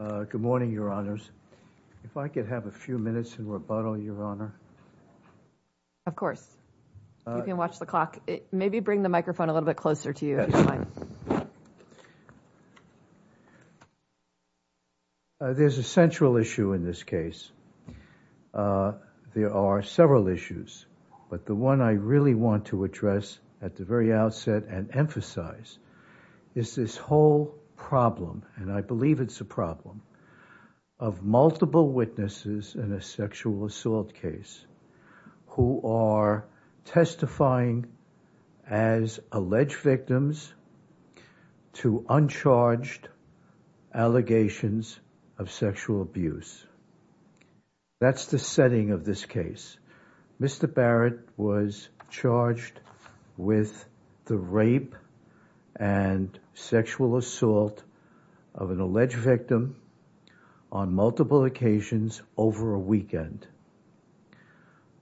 Good morning, your honors. If I could have a few minutes in rebuttal, your honor. Of course. You can watch the clock. Maybe bring the microphone a little bit closer to you. There's a central issue in this case. There are several issues, but the one I really want to address at the very outset and emphasize is this whole problem, and I believe it's a problem, of multiple witnesses in a sexual assault case who are testifying as alleged victims to uncharged allegations of sexual abuse. That's the setting of this case. Mr. Barrett was charged with the rape and sexual assault of an alleged victim on multiple occasions over a weekend.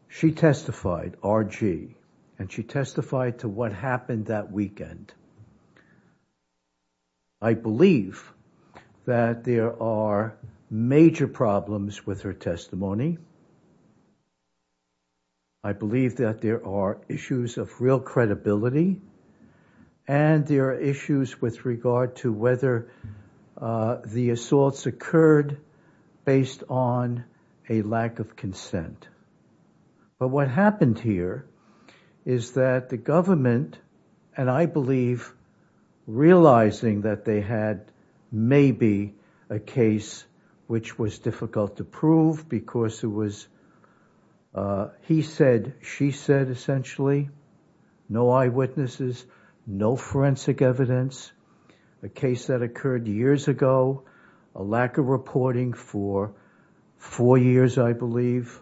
She testified, RG, and she testified to what happened that weekend. I believe that there are major problems with her testimony. I believe that there are issues of real credibility, and there are issues with regard to whether the assaults occurred based on a lack of consent. But what happened here is that the government, and I believe realizing that they had maybe a case which was difficult to prove because it was, he said, she said, essentially, no eyewitnesses, no forensic evidence, a case that occurred years ago, a lack of reporting for four years, I believe,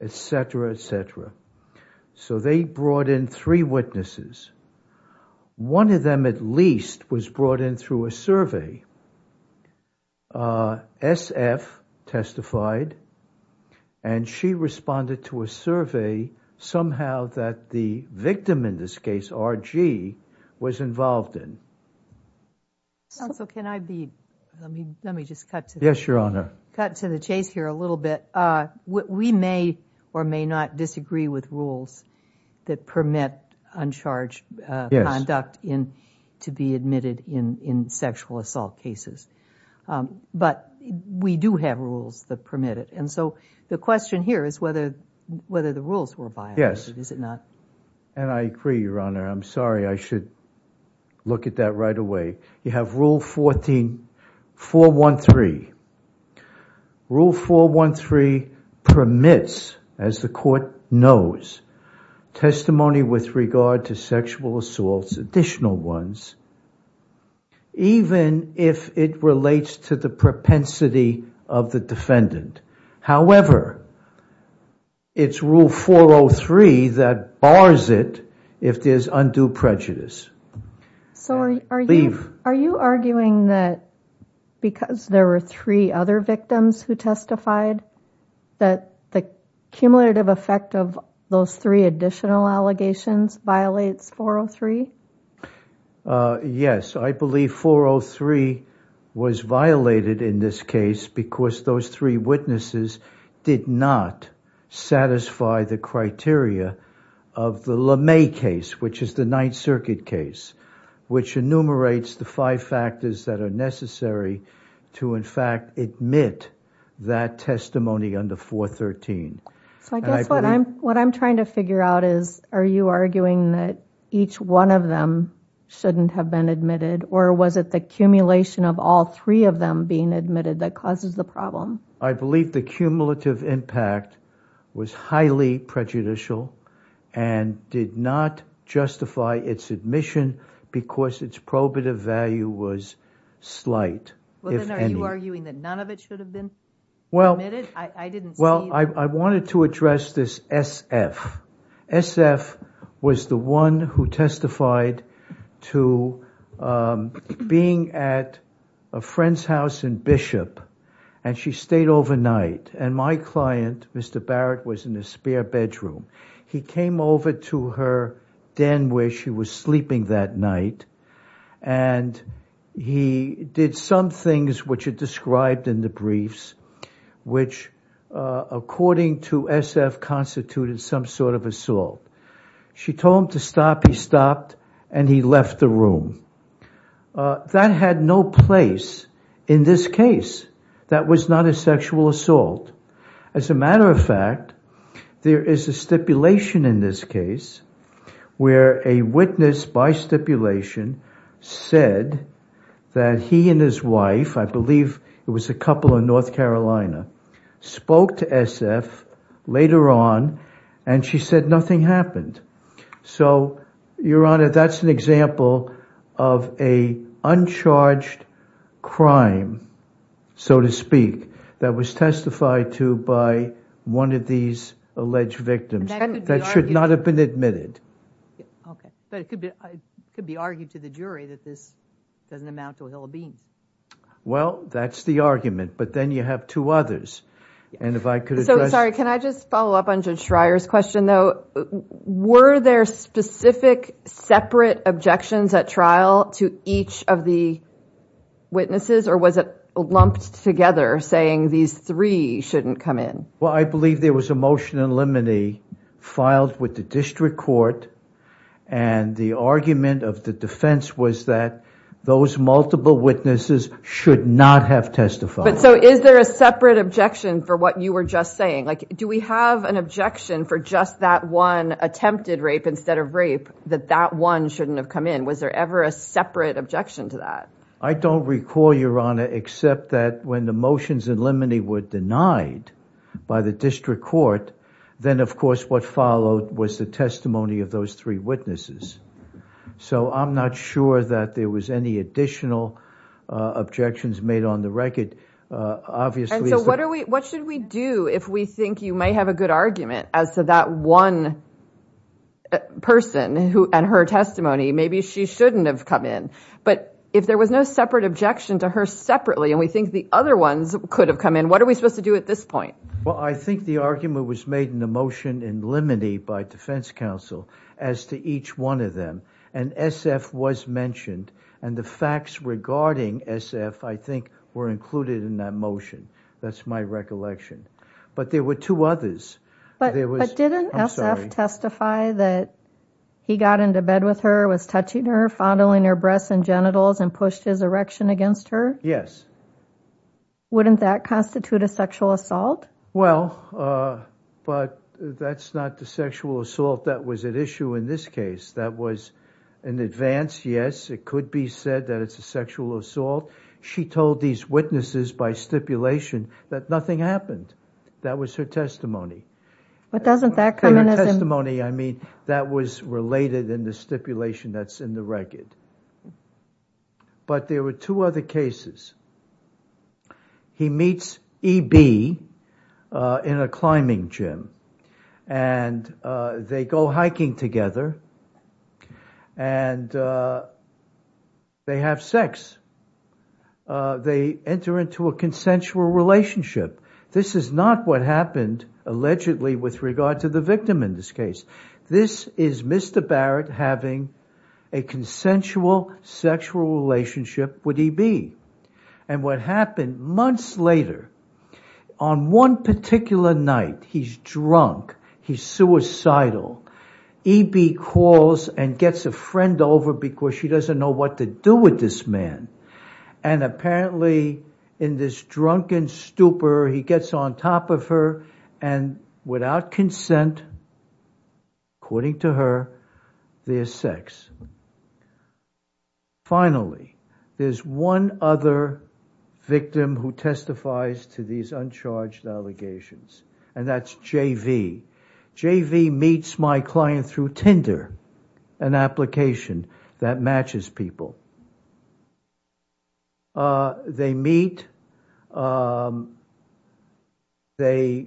et cetera, et cetera. So they brought in three witnesses. One of least was brought in through a survey. SF testified, and she responded to a survey somehow that the victim in this case, RG, was involved in. Counsel, can I be, let me just cut to the chase here a little bit. We may or may not disagree with rules that permit uncharged conduct to be admitted in sexual assault cases. But we do have rules that permit it. And so the question here is whether the rules were violated, is it not? Yes. And I agree, Your Honor. I'm sorry. I should look at that right away. You have rule 14, 413. Rule 413 permits, as the court knows, testimony with regard to sexual assaults, additional ones, even if it relates to the propensity of the defendant. However, it's rule 403 that bars it if there's undue prejudice. So are you arguing that because there were three other victims who testified, that the cumulative effect of those three additional allegations violates 403? Yes. I believe 403 was violated in this case because those three witnesses did not satisfy the criteria of the LeMay case, which is the Ninth Circuit case, which enumerates the five factors that are necessary to, in fact, admit that testimony under 413. So I guess what I'm trying to figure out is, are you arguing that each one of them shouldn't have been admitted? Or was it the accumulation of all three of them being admitted that causes the problem? I believe the cumulative impact was highly prejudicial and did not justify its admission because its probative value was slight, if any. Well, then are you arguing that none of it should have been admitted? I didn't see... Well, I wanted to address this SF. SF was the one who testified to being at a friend's house in Bishop, and she stayed overnight. And my client, Mr. Barrett, was in a spare bedroom. He came over to her den where she was sleeping that night, and he did some things which are described in the briefs, which according to SF, constituted some sort of assault. She told him to stop, he stopped, and he left the room. That had no place in this case. That was not a sexual assault. As a matter of fact, there is a stipulation in this case where a witness by stipulation said that he and his wife, I believe it was a couple in North So, Your Honor, that's an example of an uncharged crime, so to speak, that was testified to by one of these alleged victims that should not have been admitted. But it could be argued to the jury that this doesn't amount to a hill of beans. Well, that's the argument, but then you have two others. And if I could address... So, sorry, can I just follow up on Judge Schreier's question, though? Were there specific separate objections at trial to each of the witnesses, or was it lumped together saying these three shouldn't come in? Well, I believe there was a motion in limine filed with the district court, and the argument of the defense was that those multiple witnesses should not have testified. So, is there a separate objection for what you were just saying? Do we have an objection for just that one attempted rape instead of rape, that that one shouldn't have come in? Was there ever a separate objection to that? I don't recall, Your Honor, except that when the motions in limine were denied by the district court, then of course what followed was the testimony of those three witnesses. So, I'm not sure that there was any additional objections made on the record. Obviously... So, what should we do if we think you might have a good argument as to that one person and her testimony? Maybe she shouldn't have come in. But if there was no separate objection to her separately, and we think the other ones could have come in, what are we supposed to do at this point? Well, I think the argument was made in the motion in limine by defense counsel as to each one of them, and S.F. was mentioned, and the facts regarding S.F., I think, were included in that motion. That's my recollection. But there were two others. But didn't S.F. testify that he got into bed with her, was touching her, fondling her breasts and genitals, and pushed his erection against her? Yes. Wouldn't that constitute a sexual assault? Well, but that's not the sexual assault that was at issue in this case. That was an advance, yes. It could be said that it's a sexual assault. She told these witnesses by stipulation that nothing happened. That was her testimony. But doesn't that come in as a... Her testimony, I mean, that was related in the stipulation that's in the record. But there were two other cases. He meets E.B. in a climbing gym, and they go hiking together, and they have sex. They enter into a consensual relationship. This is not what happened, allegedly, with regard to the victim in this case. This is Mr. Barrett having a consensual sexual relationship with E.B. And what happened months later, on one particular night, he's drunk, he's suicidal. E.B. calls and gets a friend over because she doesn't know what to do with this man. And apparently, in this drunken stupor, he gets on top of her, and without consent, according to her, they have sex. Finally, there's one other victim who testifies to these uncharged allegations, and that's J.V. J.V. meets my client through Tinder, an application that matches people. They meet, they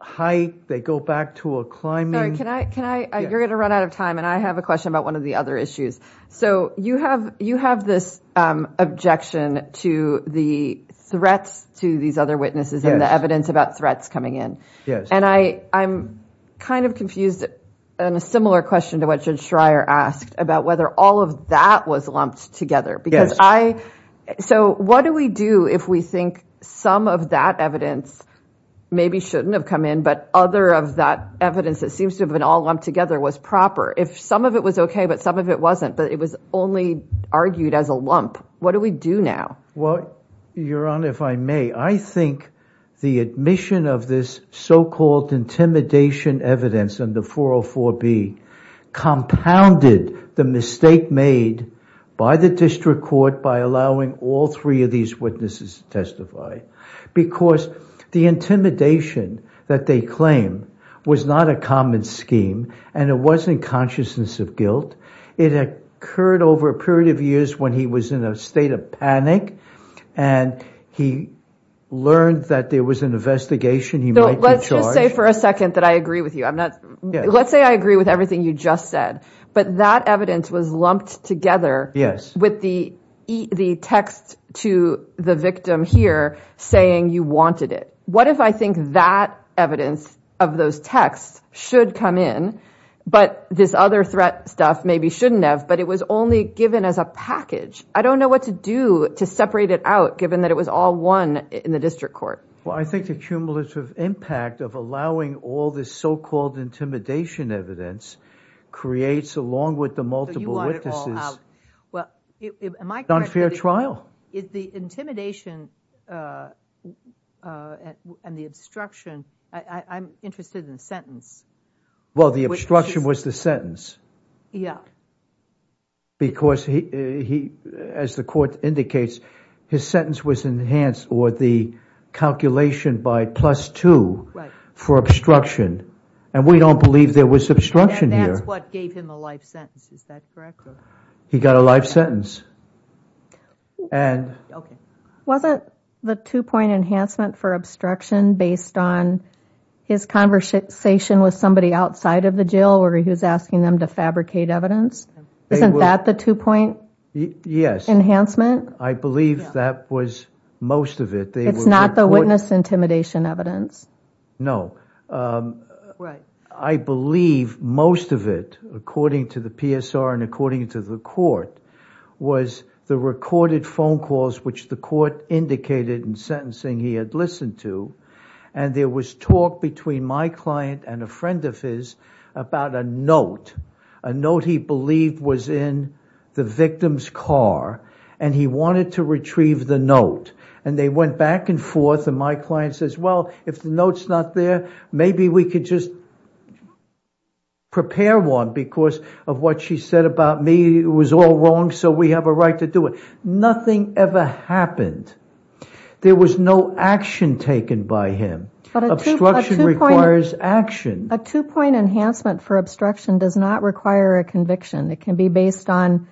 hike, they go back to a climbing... Sorry, can I... You're going to run out of time, and I have a question about one of the other issues. You have this objection to the threats to these other witnesses and the evidence about threats coming in. I'm kind of confused on a similar question to what Judge Schreier asked about whether all of that was lumped together. What do we do if we think some of that evidence maybe shouldn't have come in, but other of that evidence that seems to have been all together was proper? If some of it was okay, but some of it wasn't, but it was only argued as a lump, what do we do now? Well, Your Honor, if I may, I think the admission of this so-called intimidation evidence in the 404B compounded the mistake made by the district court by allowing all three of these witnesses to testify because the intimidation that they claim was not a common scheme, and it wasn't consciousness of guilt. It occurred over a period of years when he was in a state of panic, and he learned that there was an investigation. Let's just say for a second that I agree with you. Let's say I agree with everything you just said, but that evidence was lumped together with the text to the victim here saying you wanted it. What if I think that evidence of those texts should come in, but this other threat stuff maybe shouldn't have, but it was only given as a package? I don't know what to do to separate it out given that it was all one in the district court. Well, I think the cumulative impact of allowing all this so-called intimidation evidence creates along with the multiple witnesses. Well, am I correct? It's an unfair trial. The intimidation and the obstruction, I'm interested in the sentence. Well, the obstruction was the sentence. Yeah. Because he, as the court indicates, his sentence was enhanced or the calculation by plus two for obstruction, and we don't believe there was obstruction here. That's what gave him a life sentence. Is that correct? He got a life sentence Wasn't the two-point enhancement for obstruction based on his conversation with somebody outside of the jail where he was asking them to fabricate evidence? Isn't that the two-point enhancement? Yes. I believe that was most of it. It's not the witness intimidation evidence? No. Right. I believe most of it, according to the PSR and according to the court, was the recorded phone calls which the court indicated in sentencing he had listened to, and there was talk between my client and a friend of his about a note. A note he believed was in the victim's car, and he wanted to retrieve the note. They went back and forth, and my client says, well, if the note's not there, maybe we could just prepare one because of what she said about me. It was all wrong, so we have a right to do it. Nothing ever happened. There was no action taken by him. Obstruction requires action. A two-point enhancement for obstruction does not require a conviction. It can be based on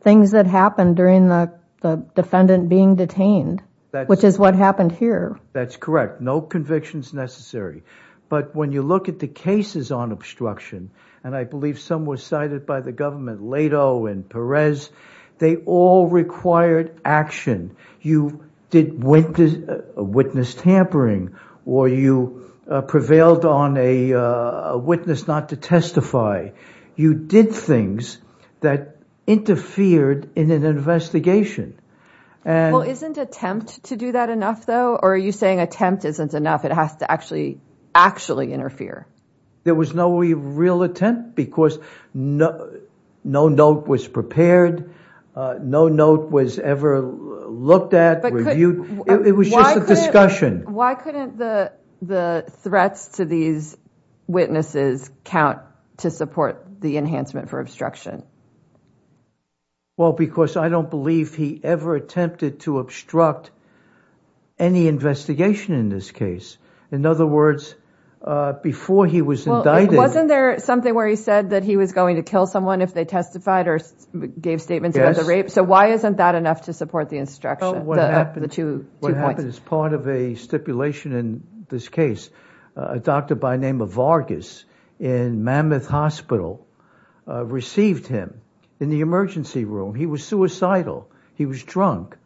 things that happened during the defendant being detained, which is what happened here. That's correct. No conviction is necessary, but when you look at the cases on obstruction, and I believe some were cited by the government, Leto and Perez, they all required action. You did witness tampering, or you prevailed on a witness not to testify. You did things that interfered in an investigation. Well, isn't attempt to do that enough, though, or are you saying attempt isn't enough? It has to actually interfere. There was no real attempt because no note was prepared. No note was ever looked at, reviewed. It was just a discussion. Why couldn't the threats to these witnesses count to support the enhancement for obstruction? Well, because I don't believe he ever attempted to obstruct any investigation in this case. In other words, before he was indicted, wasn't there something where he said that he was going to kill someone if they testified or gave statements about the rape? So why isn't that enough to support the instruction? What happened is part of a stipulation in this case. A doctor by name of Vargas in Mammoth Hospital received him in the emergency room. He was suicidal. He was drunk,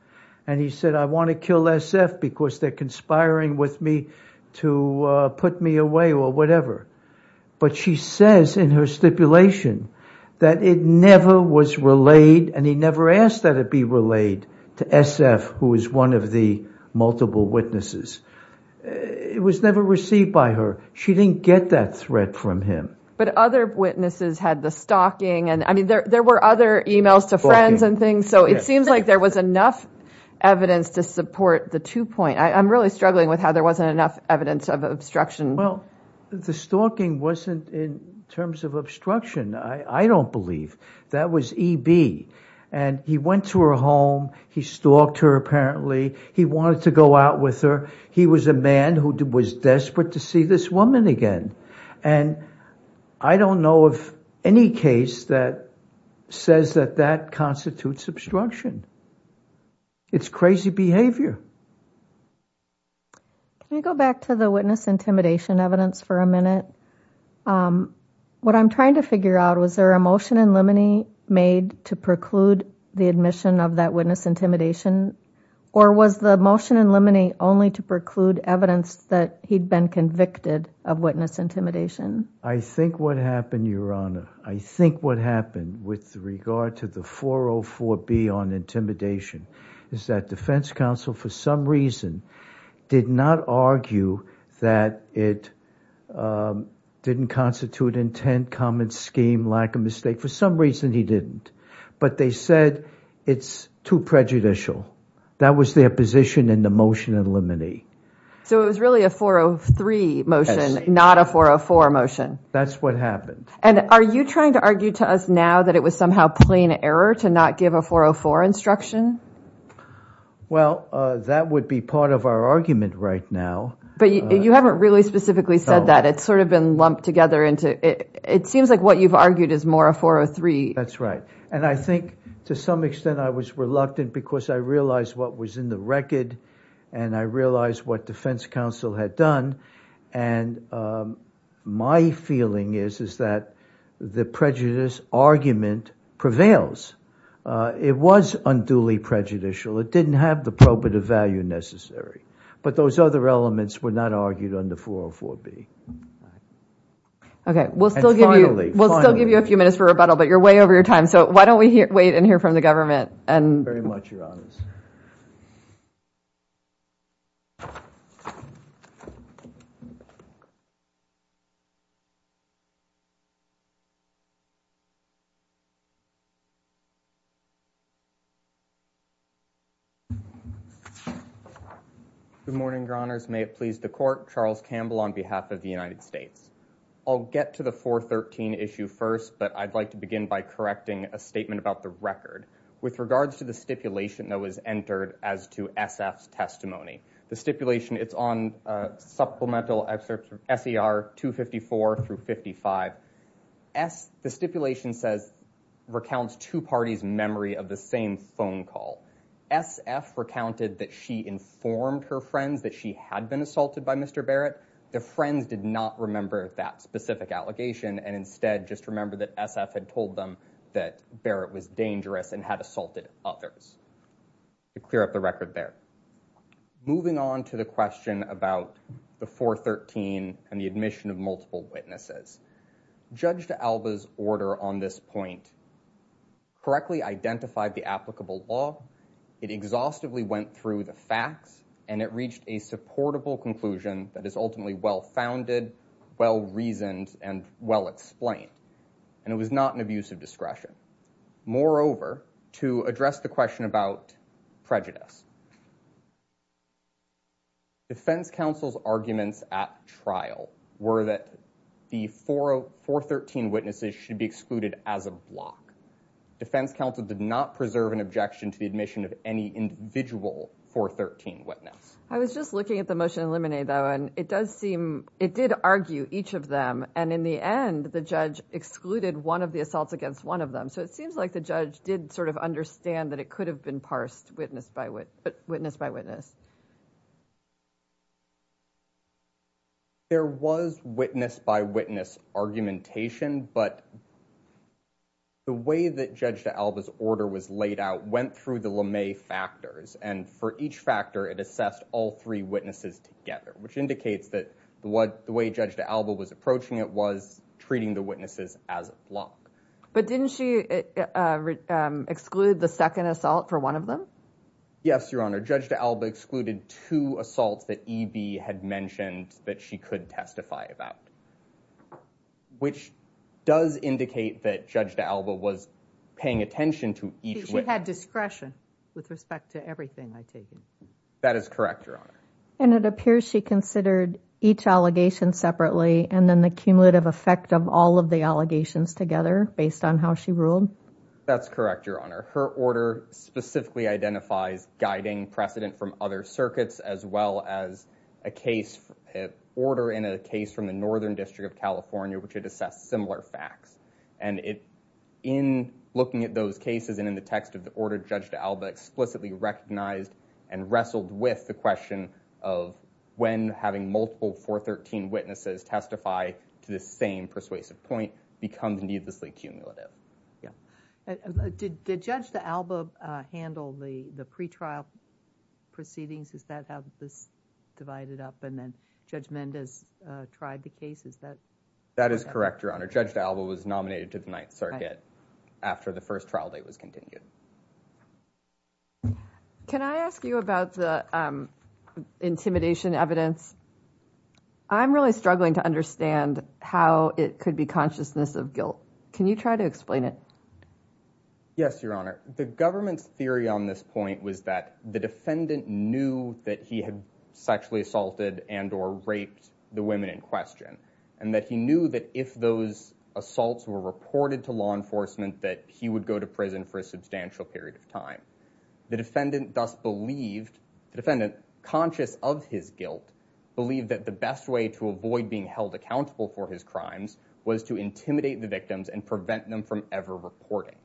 and he said, I want to kill SF because they're conspiring with me to put me away or whatever. But she says in her stipulation that it never was relayed, and he never asked that it be to SF, who is one of the multiple witnesses. It was never received by her. She didn't get that threat from him. But other witnesses had the stalking, and I mean, there were other emails to friends and things. So it seems like there was enough evidence to support the two point. I'm really struggling with how there wasn't enough evidence of obstruction. Well, the stalking wasn't in terms of obstruction. I don't believe that was EB. And he went to her home. He stalked her apparently. He wanted to go out with her. He was a man who was desperate to see this woman again. And I don't know of any case that says that that constitutes obstruction. It's crazy behavior. Can you go back to the witness intimidation evidence for a minute? Um, what I'm trying to figure out, was there a motion in limine made to preclude the admission of that witness intimidation? Or was the motion in limine only to preclude evidence that he'd been convicted of witness intimidation? I think what happened, Your Honor, I think what happened with regard to the 404B on intimidation is that defense counsel, for some reason, did not argue that it didn't constitute intent, common scheme, lack of mistake. For some reason he didn't. But they said it's too prejudicial. That was their position in the motion in limine. So it was really a 403 motion, not a 404 motion. That's what happened. And are you trying to argue to us now that it was somehow plain error to not give a 404 instruction? Well, that would be part of our argument right now. But you haven't really specifically said that. It's sort of been lumped together into, it seems like what you've argued is more a 403. That's right. And I think to some extent I was reluctant because I realized what was in the record and I realized what defense counsel had done. And my feeling is, is that the prejudice argument prevails. It was unduly prejudicial. It didn't have the probative value necessary. But those other elements were not argued on the 404B. Okay. We'll still give you a few minutes for rebuttal, but you're way over your time. So why don't we wait and hear from the government? Good morning, your honors. May it please the court. Charles Campbell on behalf of the United States. I'll get to the 413 issue first, but I'd like to begin by correcting a statement about the record. With regards to the stipulation that was entered as to SF's testimony. The stipulation, it's on supplemental excerpts of SER 254 through 55. S, the stipulation says, recounts two parties' memory of the same phone call. SF recounted that she informed her friends that she had been assaulted by Mr. Barrett. The friends did not remember that specific allegation and instead just remembered that SF had told them that Barrett was dangerous and had assaulted others. To clear up the record there. Moving on to the question about the 413 and the admission of multiple witnesses. Judge D'Alba's order on this point correctly identified the applicable law. It exhaustively went through the facts and it reached a supportable conclusion that is ultimately well-founded, well-reasoned, and well-explained. And it was not an abuse of discretion. Moreover, to address the question about prejudice. Defense counsel's arguments at trial were that the 413 witnesses should be excluded as a block. Defense counsel did not preserve an objection to the admission of any individual 413 witness. I was just looking at the motion in limine though and it does seem, it did argue each of them and in the end the judge excluded one of the assaults against one of them. It seems like the judge did sort of understand that it could have been parsed witness by witness. There was witness by witness argumentation but the way that Judge D'Alba's order was laid out went through the LeMay factors and for each factor it assessed all three witnesses together. Which indicates that the way Judge D'Alba was approaching it was treating the witnesses as a um excluded the second assault for one of them. Yes your honor, Judge D'Alba excluded two assaults that EB had mentioned that she could testify about. Which does indicate that Judge D'Alba was paying attention to each witness. She had discretion with respect to everything I take. That is correct your honor. And it appears she considered each allegation separately and then cumulative effect of all of the allegations together based on how she ruled. That's correct your honor. Her order specifically identifies guiding precedent from other circuits as well as a case order in a case from the Northern District of California which had assessed similar facts. And it in looking at those cases and in the text of the order Judge D'Alba explicitly recognized and wrestled with the question of when having multiple 413 witnesses testify to the same persuasive point becomes needlessly cumulative. Yeah did Judge D'Alba handle the the pre-trial proceedings? Is that how this divided up and then Judge Mendez tried the case? Is that? That is correct your honor. Judge D'Alba was nominated to the Ninth Circuit after the first trial date was continued. Can I ask you about the intimidation evidence? I'm really struggling to understand how it could be consciousness of guilt. Can you try to explain it? Yes your honor. The government's theory on this point was that the defendant knew that he had sexually assaulted and or raped the women in question. And that he knew that if those assaults were reported to law enforcement that he would go to prison for a substantial period of time. The defendant thus believed the defendant conscious of his guilt believed that the best way to avoid being held accountable for his crimes was to intimidate the victims and prevent them from ever reporting.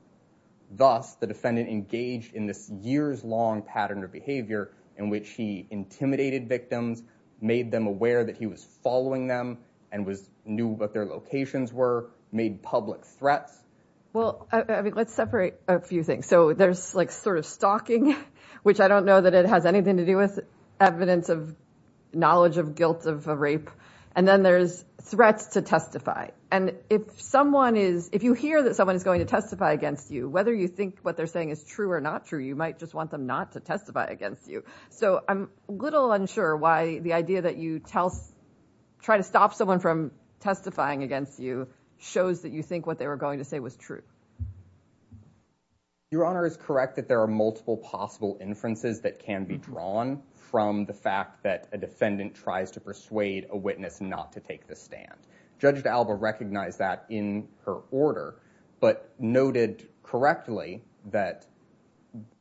Thus the defendant engaged in this years-long pattern of behavior in which he intimidated victims made them aware that he was following them and was knew what their locations were made public threats. Well I mean let's separate a few things. So there's like sort of stalking which I don't know that it has anything to do with evidence of knowledge of guilt of a rape. And then there's threats to testify. And if someone is if you hear that someone is going to testify against you whether you think what they're saying is true or not true you might just want them not to testify against you. So I'm a little unsure why the idea that you tell try to stop someone from testifying against you shows that you think what they were going to say was true. Your honor is correct that there are multiple possible inferences that can be drawn from the fact that a defendant tries to persuade a witness not to take the stand. Judge D'Alba recognized that in her order but noted correctly that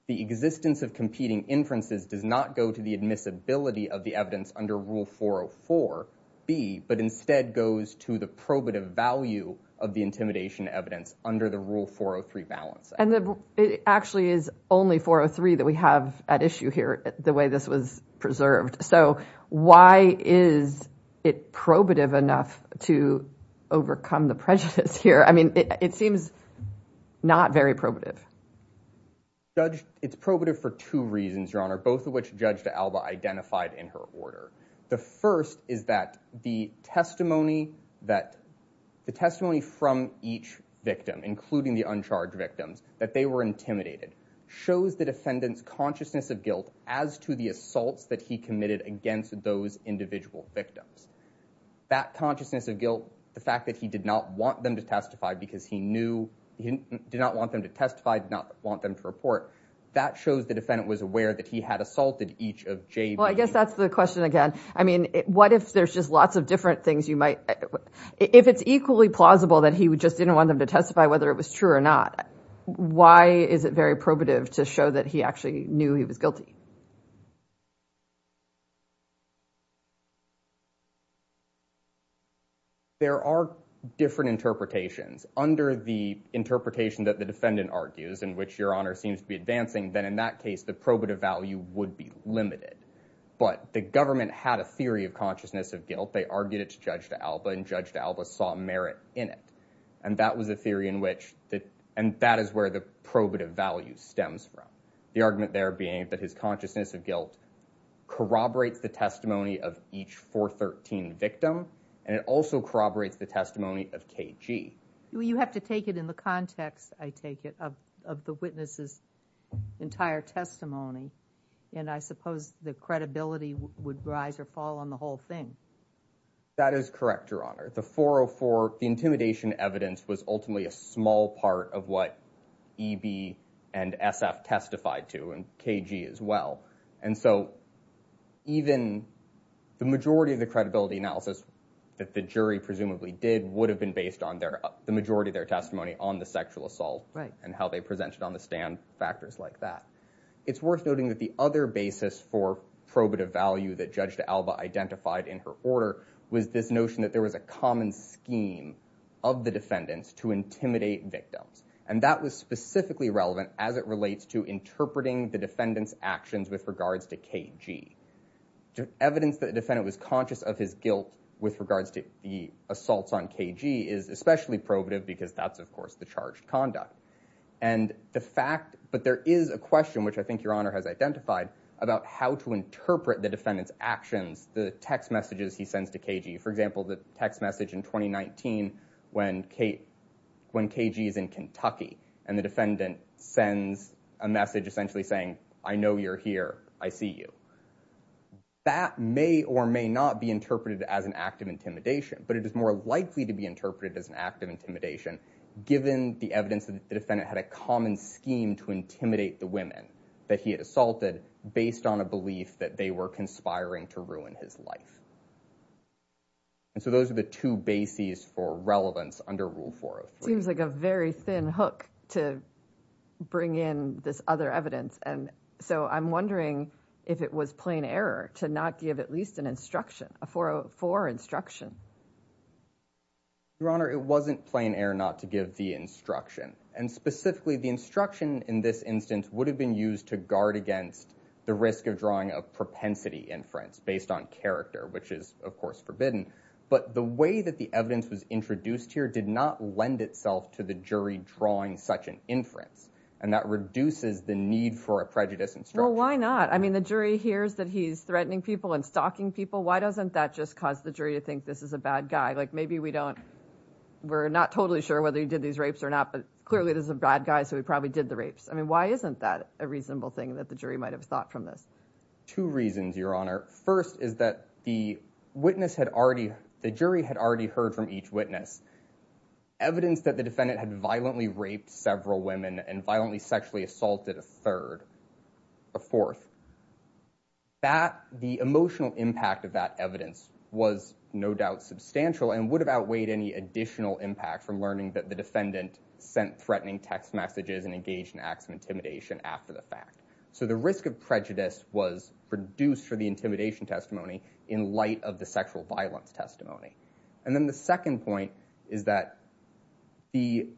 the existence of competing inferences does not go to the admissibility of the evidence under rule 404b but instead goes to the probative value of the intimidation evidence under the rule 403 balancing. And it actually is only 403 that we have at issue here the way this was preserved. So why is it probative enough to overcome the prejudice here? I mean it seems not very probative. Judge it's probative for two reasons your honor both of which Judge D'Alba identified in her order. The first is that the testimony that the testimony from each victim including the uncharged victims that they were intimidated shows the defendant's consciousness of guilt as to the assaults that he committed against those individual victims. That consciousness of guilt the fact that he did not want them to testify because he knew he did not want them to testify did not want them to report that shows the defendant was aware that he had assaulted each of jay well i guess that's the question again i mean what if there's just lots of different things you might if it's equally plausible that he would just didn't want them to testify whether it was true or not why is it very probative to show that he actually knew he was guilty there are different interpretations under the interpretation that the defendant argues in which your honor seems to be advancing then in that case the probative value would be limited but the government had a theory of consciousness of guilt they argued it to Judge D'Alba and Judge D'Alba saw merit in it and that was a theory in which that and that is where the probative value stems from the argument there being that his consciousness of guilt corroborates the testimony of each 413 victim and it also corroborates the testimony of KG you have to take it in the context i take it of of the witnesses entire testimony and i suppose the credibility would rise or fall on the whole thing that is correct your honor the 404 intimidation evidence was ultimately a small part of what EB and SF testified to and KG as well and so even the majority of the credibility analysis that the jury presumably did would have been based on their the majority of their testimony on the sexual assault right and how they presented on the stand factors like that it's worth noting that the other basis for probative value that Judge D'Alba identified in her order was this notion that there was a common scheme of the defendants to intimidate victims and that was specifically relevant as it relates to interpreting the defendants actions with regards to KG to evidence that defendant was conscious of his guilt with regards to the assaults on KG is especially probative because that's of course the charged conduct and the fact but there is a question which i think your honor has identified about how to interpret the defendant's actions the text messages he sends to KG for example the text message in 2019 when Kate when KG is in Kentucky and the defendant sends a message essentially saying I know you're here I see you that may or may not be interpreted as an act of intimidation but it is more likely to be interpreted as an act of intimidation given the evidence that the defendant had a common scheme to intimidate the women that he had assaulted based on a belief that they were conspiring to ruin his life and so those are the two bases for relevance under rule seems like a very thin hook to bring in this other evidence and so I'm wondering if it was plain error to not give at least an instruction a 404 instruction your honor it wasn't plain error not to give the instruction and specifically the instruction in this instance would have been used to guard against the risk of drawing of propensity inference based on character which is of course forbidden but the way that the evidence was introduced here did not lend itself to the jury drawing such an inference and that reduces the need for a prejudice and so why not I mean the jury hears that he's threatening people and stalking people why doesn't that just cause the jury to think this is a bad guy like maybe we don't we're not totally sure whether he did these rapes or not but clearly this is a bad guy so he probably did the rapes I mean why isn't that a reasonable thing that the jury might have thought from this two reasons your honor first is that the witness had already the jury had already heard from each witness evidence that the defendant had violently raped several women and violently sexually assaulted a third a fourth that the emotional impact of that evidence was no doubt substantial and would have outweighed any additional impact from learning that the defendant sent threatening text messages and engaged in acts of intimidation after the fact so the risk of prejudice was reduced for the intimidation testimony in light of the sexual violence testimony and then the second point is that the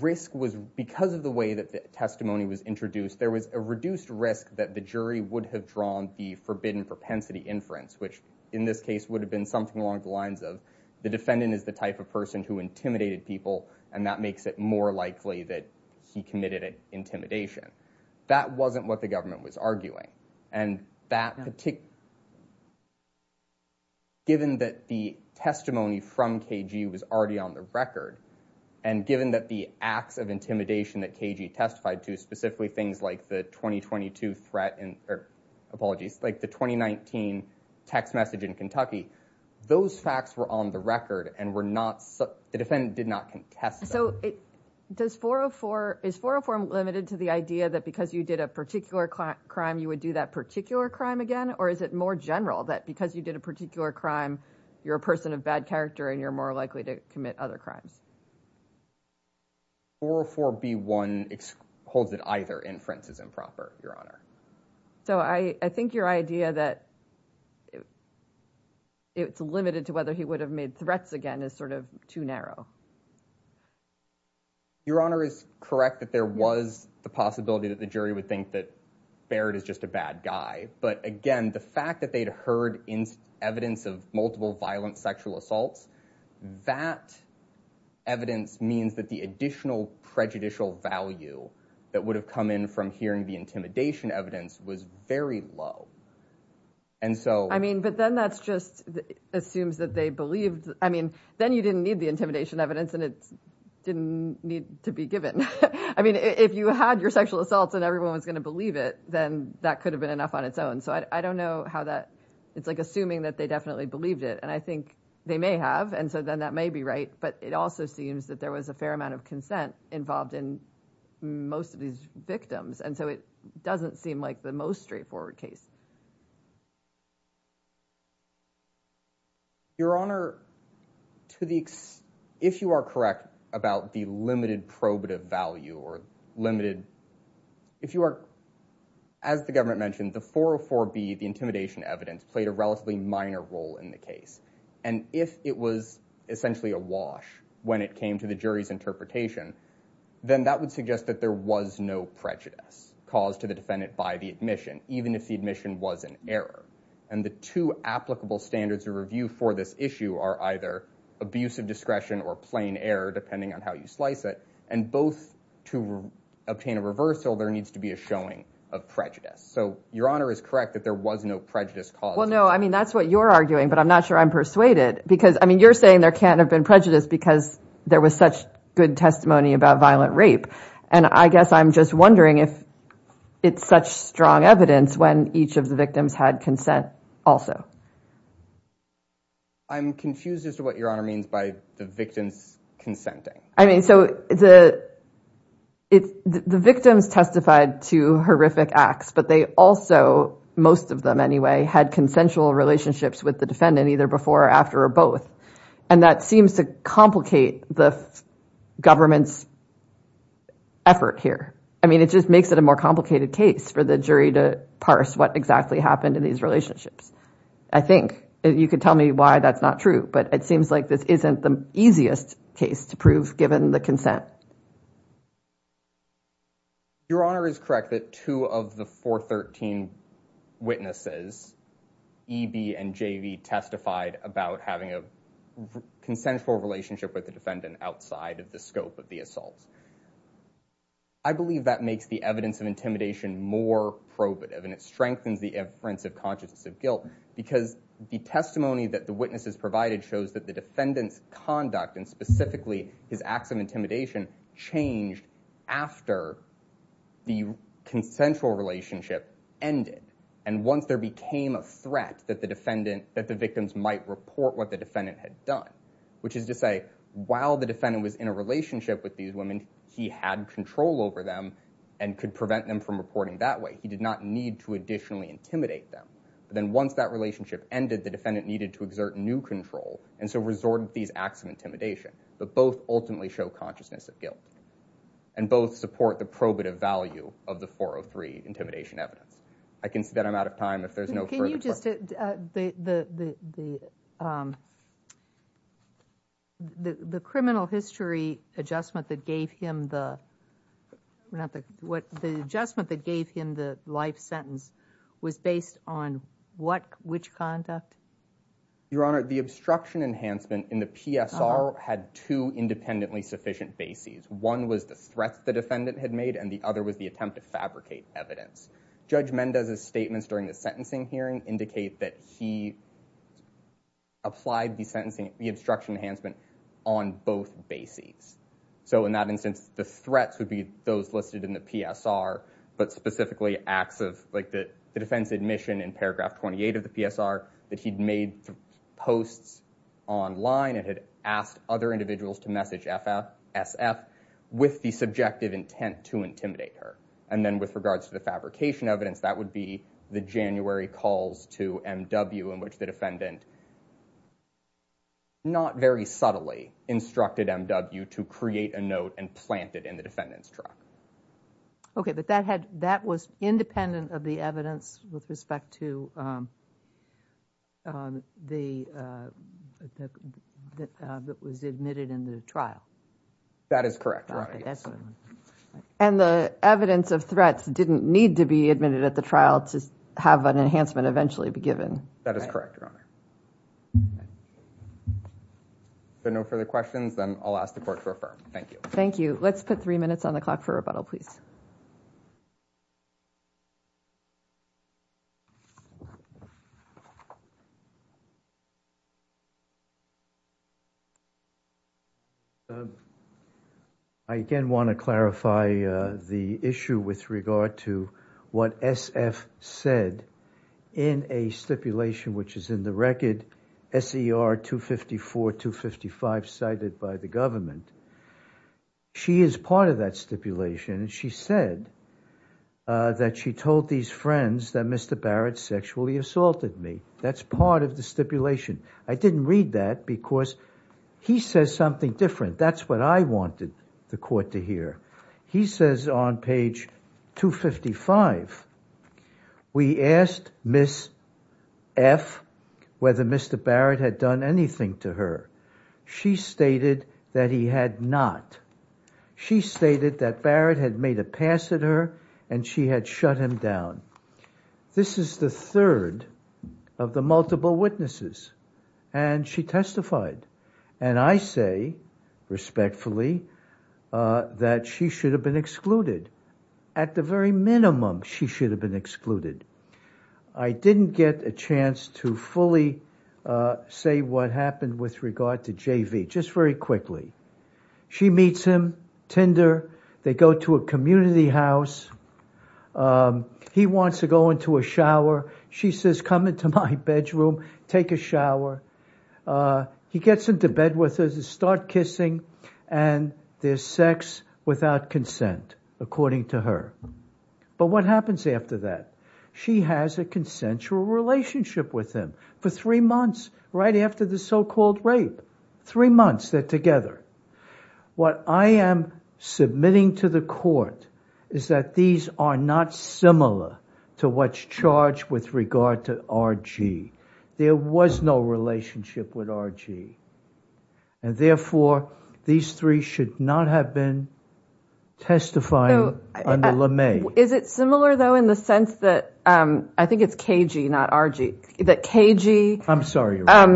risk was because of the way that the testimony was introduced there was a reduced risk that the jury would have drawn the forbidden propensity inference which in this case would have been something along the lines of the defendant is the type of person who intimidated people and that makes it more likely that he committed intimidation that wasn't what the government was arguing and that particular given that the testimony from KG was already on the record and given that the acts of intimidation that KG testified to specifically things like the 2022 threat and or apologies like the 2019 text message in Kentucky those facts were on the record and were not so the did not contest so it does 404 is 404 limited to the idea that because you did a particular crime you would do that particular crime again or is it more general that because you did a particular crime you're a person of bad character and you're more likely to commit other crimes or for b1 holds it either inference is improper your honor so i i think your idea that it it's limited to whether he would have made threats again is sort of too narrow your honor is correct that there was the possibility that the jury would think that barrett is just a bad guy but again the fact that they'd heard in evidence of multiple violent sexual assaults that evidence means that the additional prejudicial value that would have from hearing the intimidation evidence was very low and so i mean but then that's just assumes that they believed i mean then you didn't need the intimidation evidence and it didn't need to be given i mean if you had your sexual assaults and everyone was going to believe it then that could have been enough on its own so i don't know how that it's like assuming that they definitely believed it and i think they may have and so then that may be right but it also seems that there was a fair amount of consent involved in most of these victims and so it doesn't seem like the most straightforward case your honor to the if you are correct about the limited probative value or limited if you are as the government mentioned the 404b the intimidation evidence played a relatively minor role in the case and if it was essentially a wash when it came to the jury's interpretation then that would suggest that there was no prejudice caused to the defendant by the admission even if the admission was an error and the two applicable standards of review for this issue are either abusive discretion or plain error depending on how you slice it and both to obtain a reversal there needs to be a showing of prejudice so your honor is correct that there was no prejudice cause well no i mean that's what you're arguing but i'm not sure i'm persuaded because i mean you're saying there can't have been prejudice because there was such good testimony about violent rape and i guess i'm just wondering if it's such strong evidence when each of the victims had consent also i'm confused as to what your honor means by the victims consenting i mean so the it's the victims testified to horrific acts but they also most of them anyway had consensual relationships with the defendant either before or after or both and that seems to complicate the government's effort here i mean it just makes it a more complicated case for the jury to parse what exactly happened in these relationships i think you could tell me why that's not true but it seems like this isn't the easiest case to prove given the consent your honor is correct that two of the 413 witnesses eb and jv testified about having a consensual relationship with the defendant outside of the scope of the assault i believe that makes the evidence of intimidation more probative and it strengthens the inference of consciousness of guilt because the testimony that the witnesses provided shows that the defendant's conduct and specifically his acts of intimidation changed after the consensual relationship ended and once there became a threat that the defendant that the victims might report what the defendant had done which is to say while the defendant was in a relationship with these women he had control over them and could prevent them from reporting that way he did not need to intimidate them but then once that relationship ended the defendant needed to exert new control and so resorted these acts of intimidation but both ultimately show consciousness of guilt and both support the probative value of the 403 intimidation evidence i can see that i'm out of time if there's no can you just uh the the um the the criminal history adjustment that gave him the not the what the adjustment that gave him the life sentence was based on what which conduct your honor the obstruction enhancement in the psr had two independently sufficient bases one was the threat the defendant had made and the other was the attempt to fabricate evidence judge mendez's statements during the sentencing hearing indicate that he applied the sentencing the obstruction enhancement on both bases so in instance the threats would be those listed in the psr but specifically acts of like the defense admission in paragraph 28 of the psr that he'd made posts online and had asked other individuals to message fsf with the subjective intent to intimidate her and then with regards to the fabrication evidence that would be the january calls to mw in which the defendant not very subtly instructed mw to create a note and plant it in the defendant's truck okay but that had that was independent of the evidence with respect to um the uh that uh that was admitted in the trial that is correct right and the evidence of threats didn't need to be admitted at the trial to have an enhancement eventually be given that is correct honor so no further questions then i'll ask the court to affirm thank you thank you let's put three minutes on the clock for rebuttal please i again want to clarify the issue with regard to what sf said in a stipulation which is in the record ser 254 255 cited by the government she is part of that stipulation and she said uh that she told these friends that mr barrett sexually assaulted me that's part of the stipulation i didn't read that because he says something different that's what i wanted the court to hear he says on page 255 we asked miss f whether mr barrett had done anything to her she stated that he had not she stated that barrett had made a pass at her and she had shut him down this is the third of the multiple witnesses and she testified and i say respectfully uh that she should have been excluded at the very minimum she should have been excluded i didn't get a chance to fully say what happened with regard to jv just very quickly she meets him tinder they go to a community house um he wants to go into a shower she says come into my bedroom take a shower uh he gets into bed with her to start kissing and there's sex without consent according to her but what happens after that she has a consensual relationship with him for three months right after the so-called rape three months they're together what i am submitting to the court is that these are not similar to what's charged with regard to rg there was no relationship with rg and therefore these three should not have been testifying under le may is it similar though in the sense that um i think it's kg not rg that kg i'm sorry um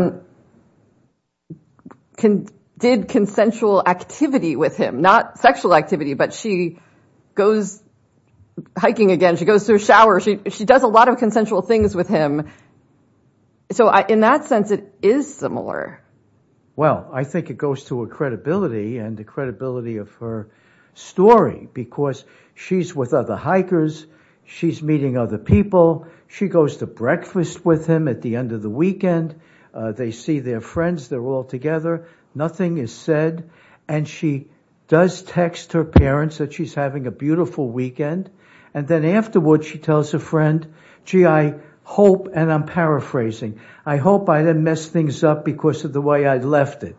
can did consensual activity with him not sexual activity but she goes hiking again she goes to a shower she she does a lot of consensual things with him so i in that sense it is similar well i think it goes to her credibility and the credibility of her story because she's with other hikers she's meeting other people she goes to breakfast with him at the end of the weekend they see their friends they're all together nothing is said and she does text her parents that she's having a beautiful weekend and then afterward she tells her friend gee i hope and i'm paraphrasing i hope i didn't mess things up because of the way i left it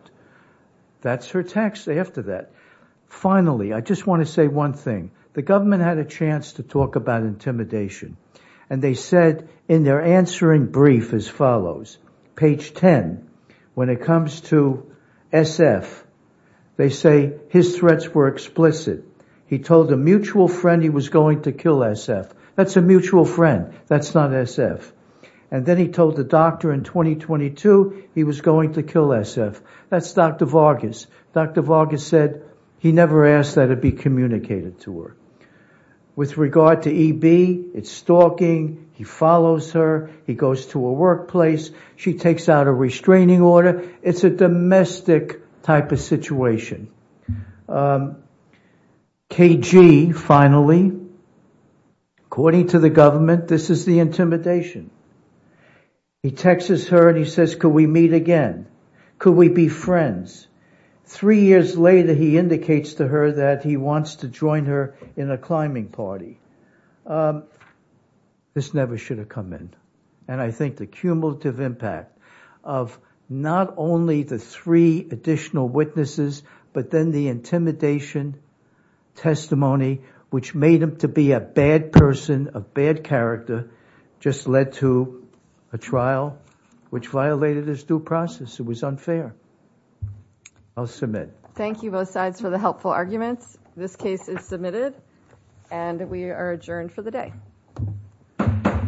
that's her text after that finally i just want to say one thing the government had a chance to talk about intimidation and they said in their answering brief as follows page 10 when it comes to sf they say his threats were explicit he told a mutual friend he was going to kill sf that's a that's dr vargas dr vargas said he never asked that it be communicated to her with regard to eb it's stalking he follows her he goes to a workplace she takes out a restraining order it's a domestic type of situation um kg finally according to the government this is the intimidation he texts her and he says could we meet again could we be friends three years later he indicates to her that he wants to join her in a climbing party um this never should have come in and i think the cumulative impact of not only the three additional witnesses but then the intimidation testimony which made him to be a bad person a bad character just led to a trial which violated his due process it was unfair i'll submit thank you both sides for the helpful arguments this case is submitted and we are adjourned for the day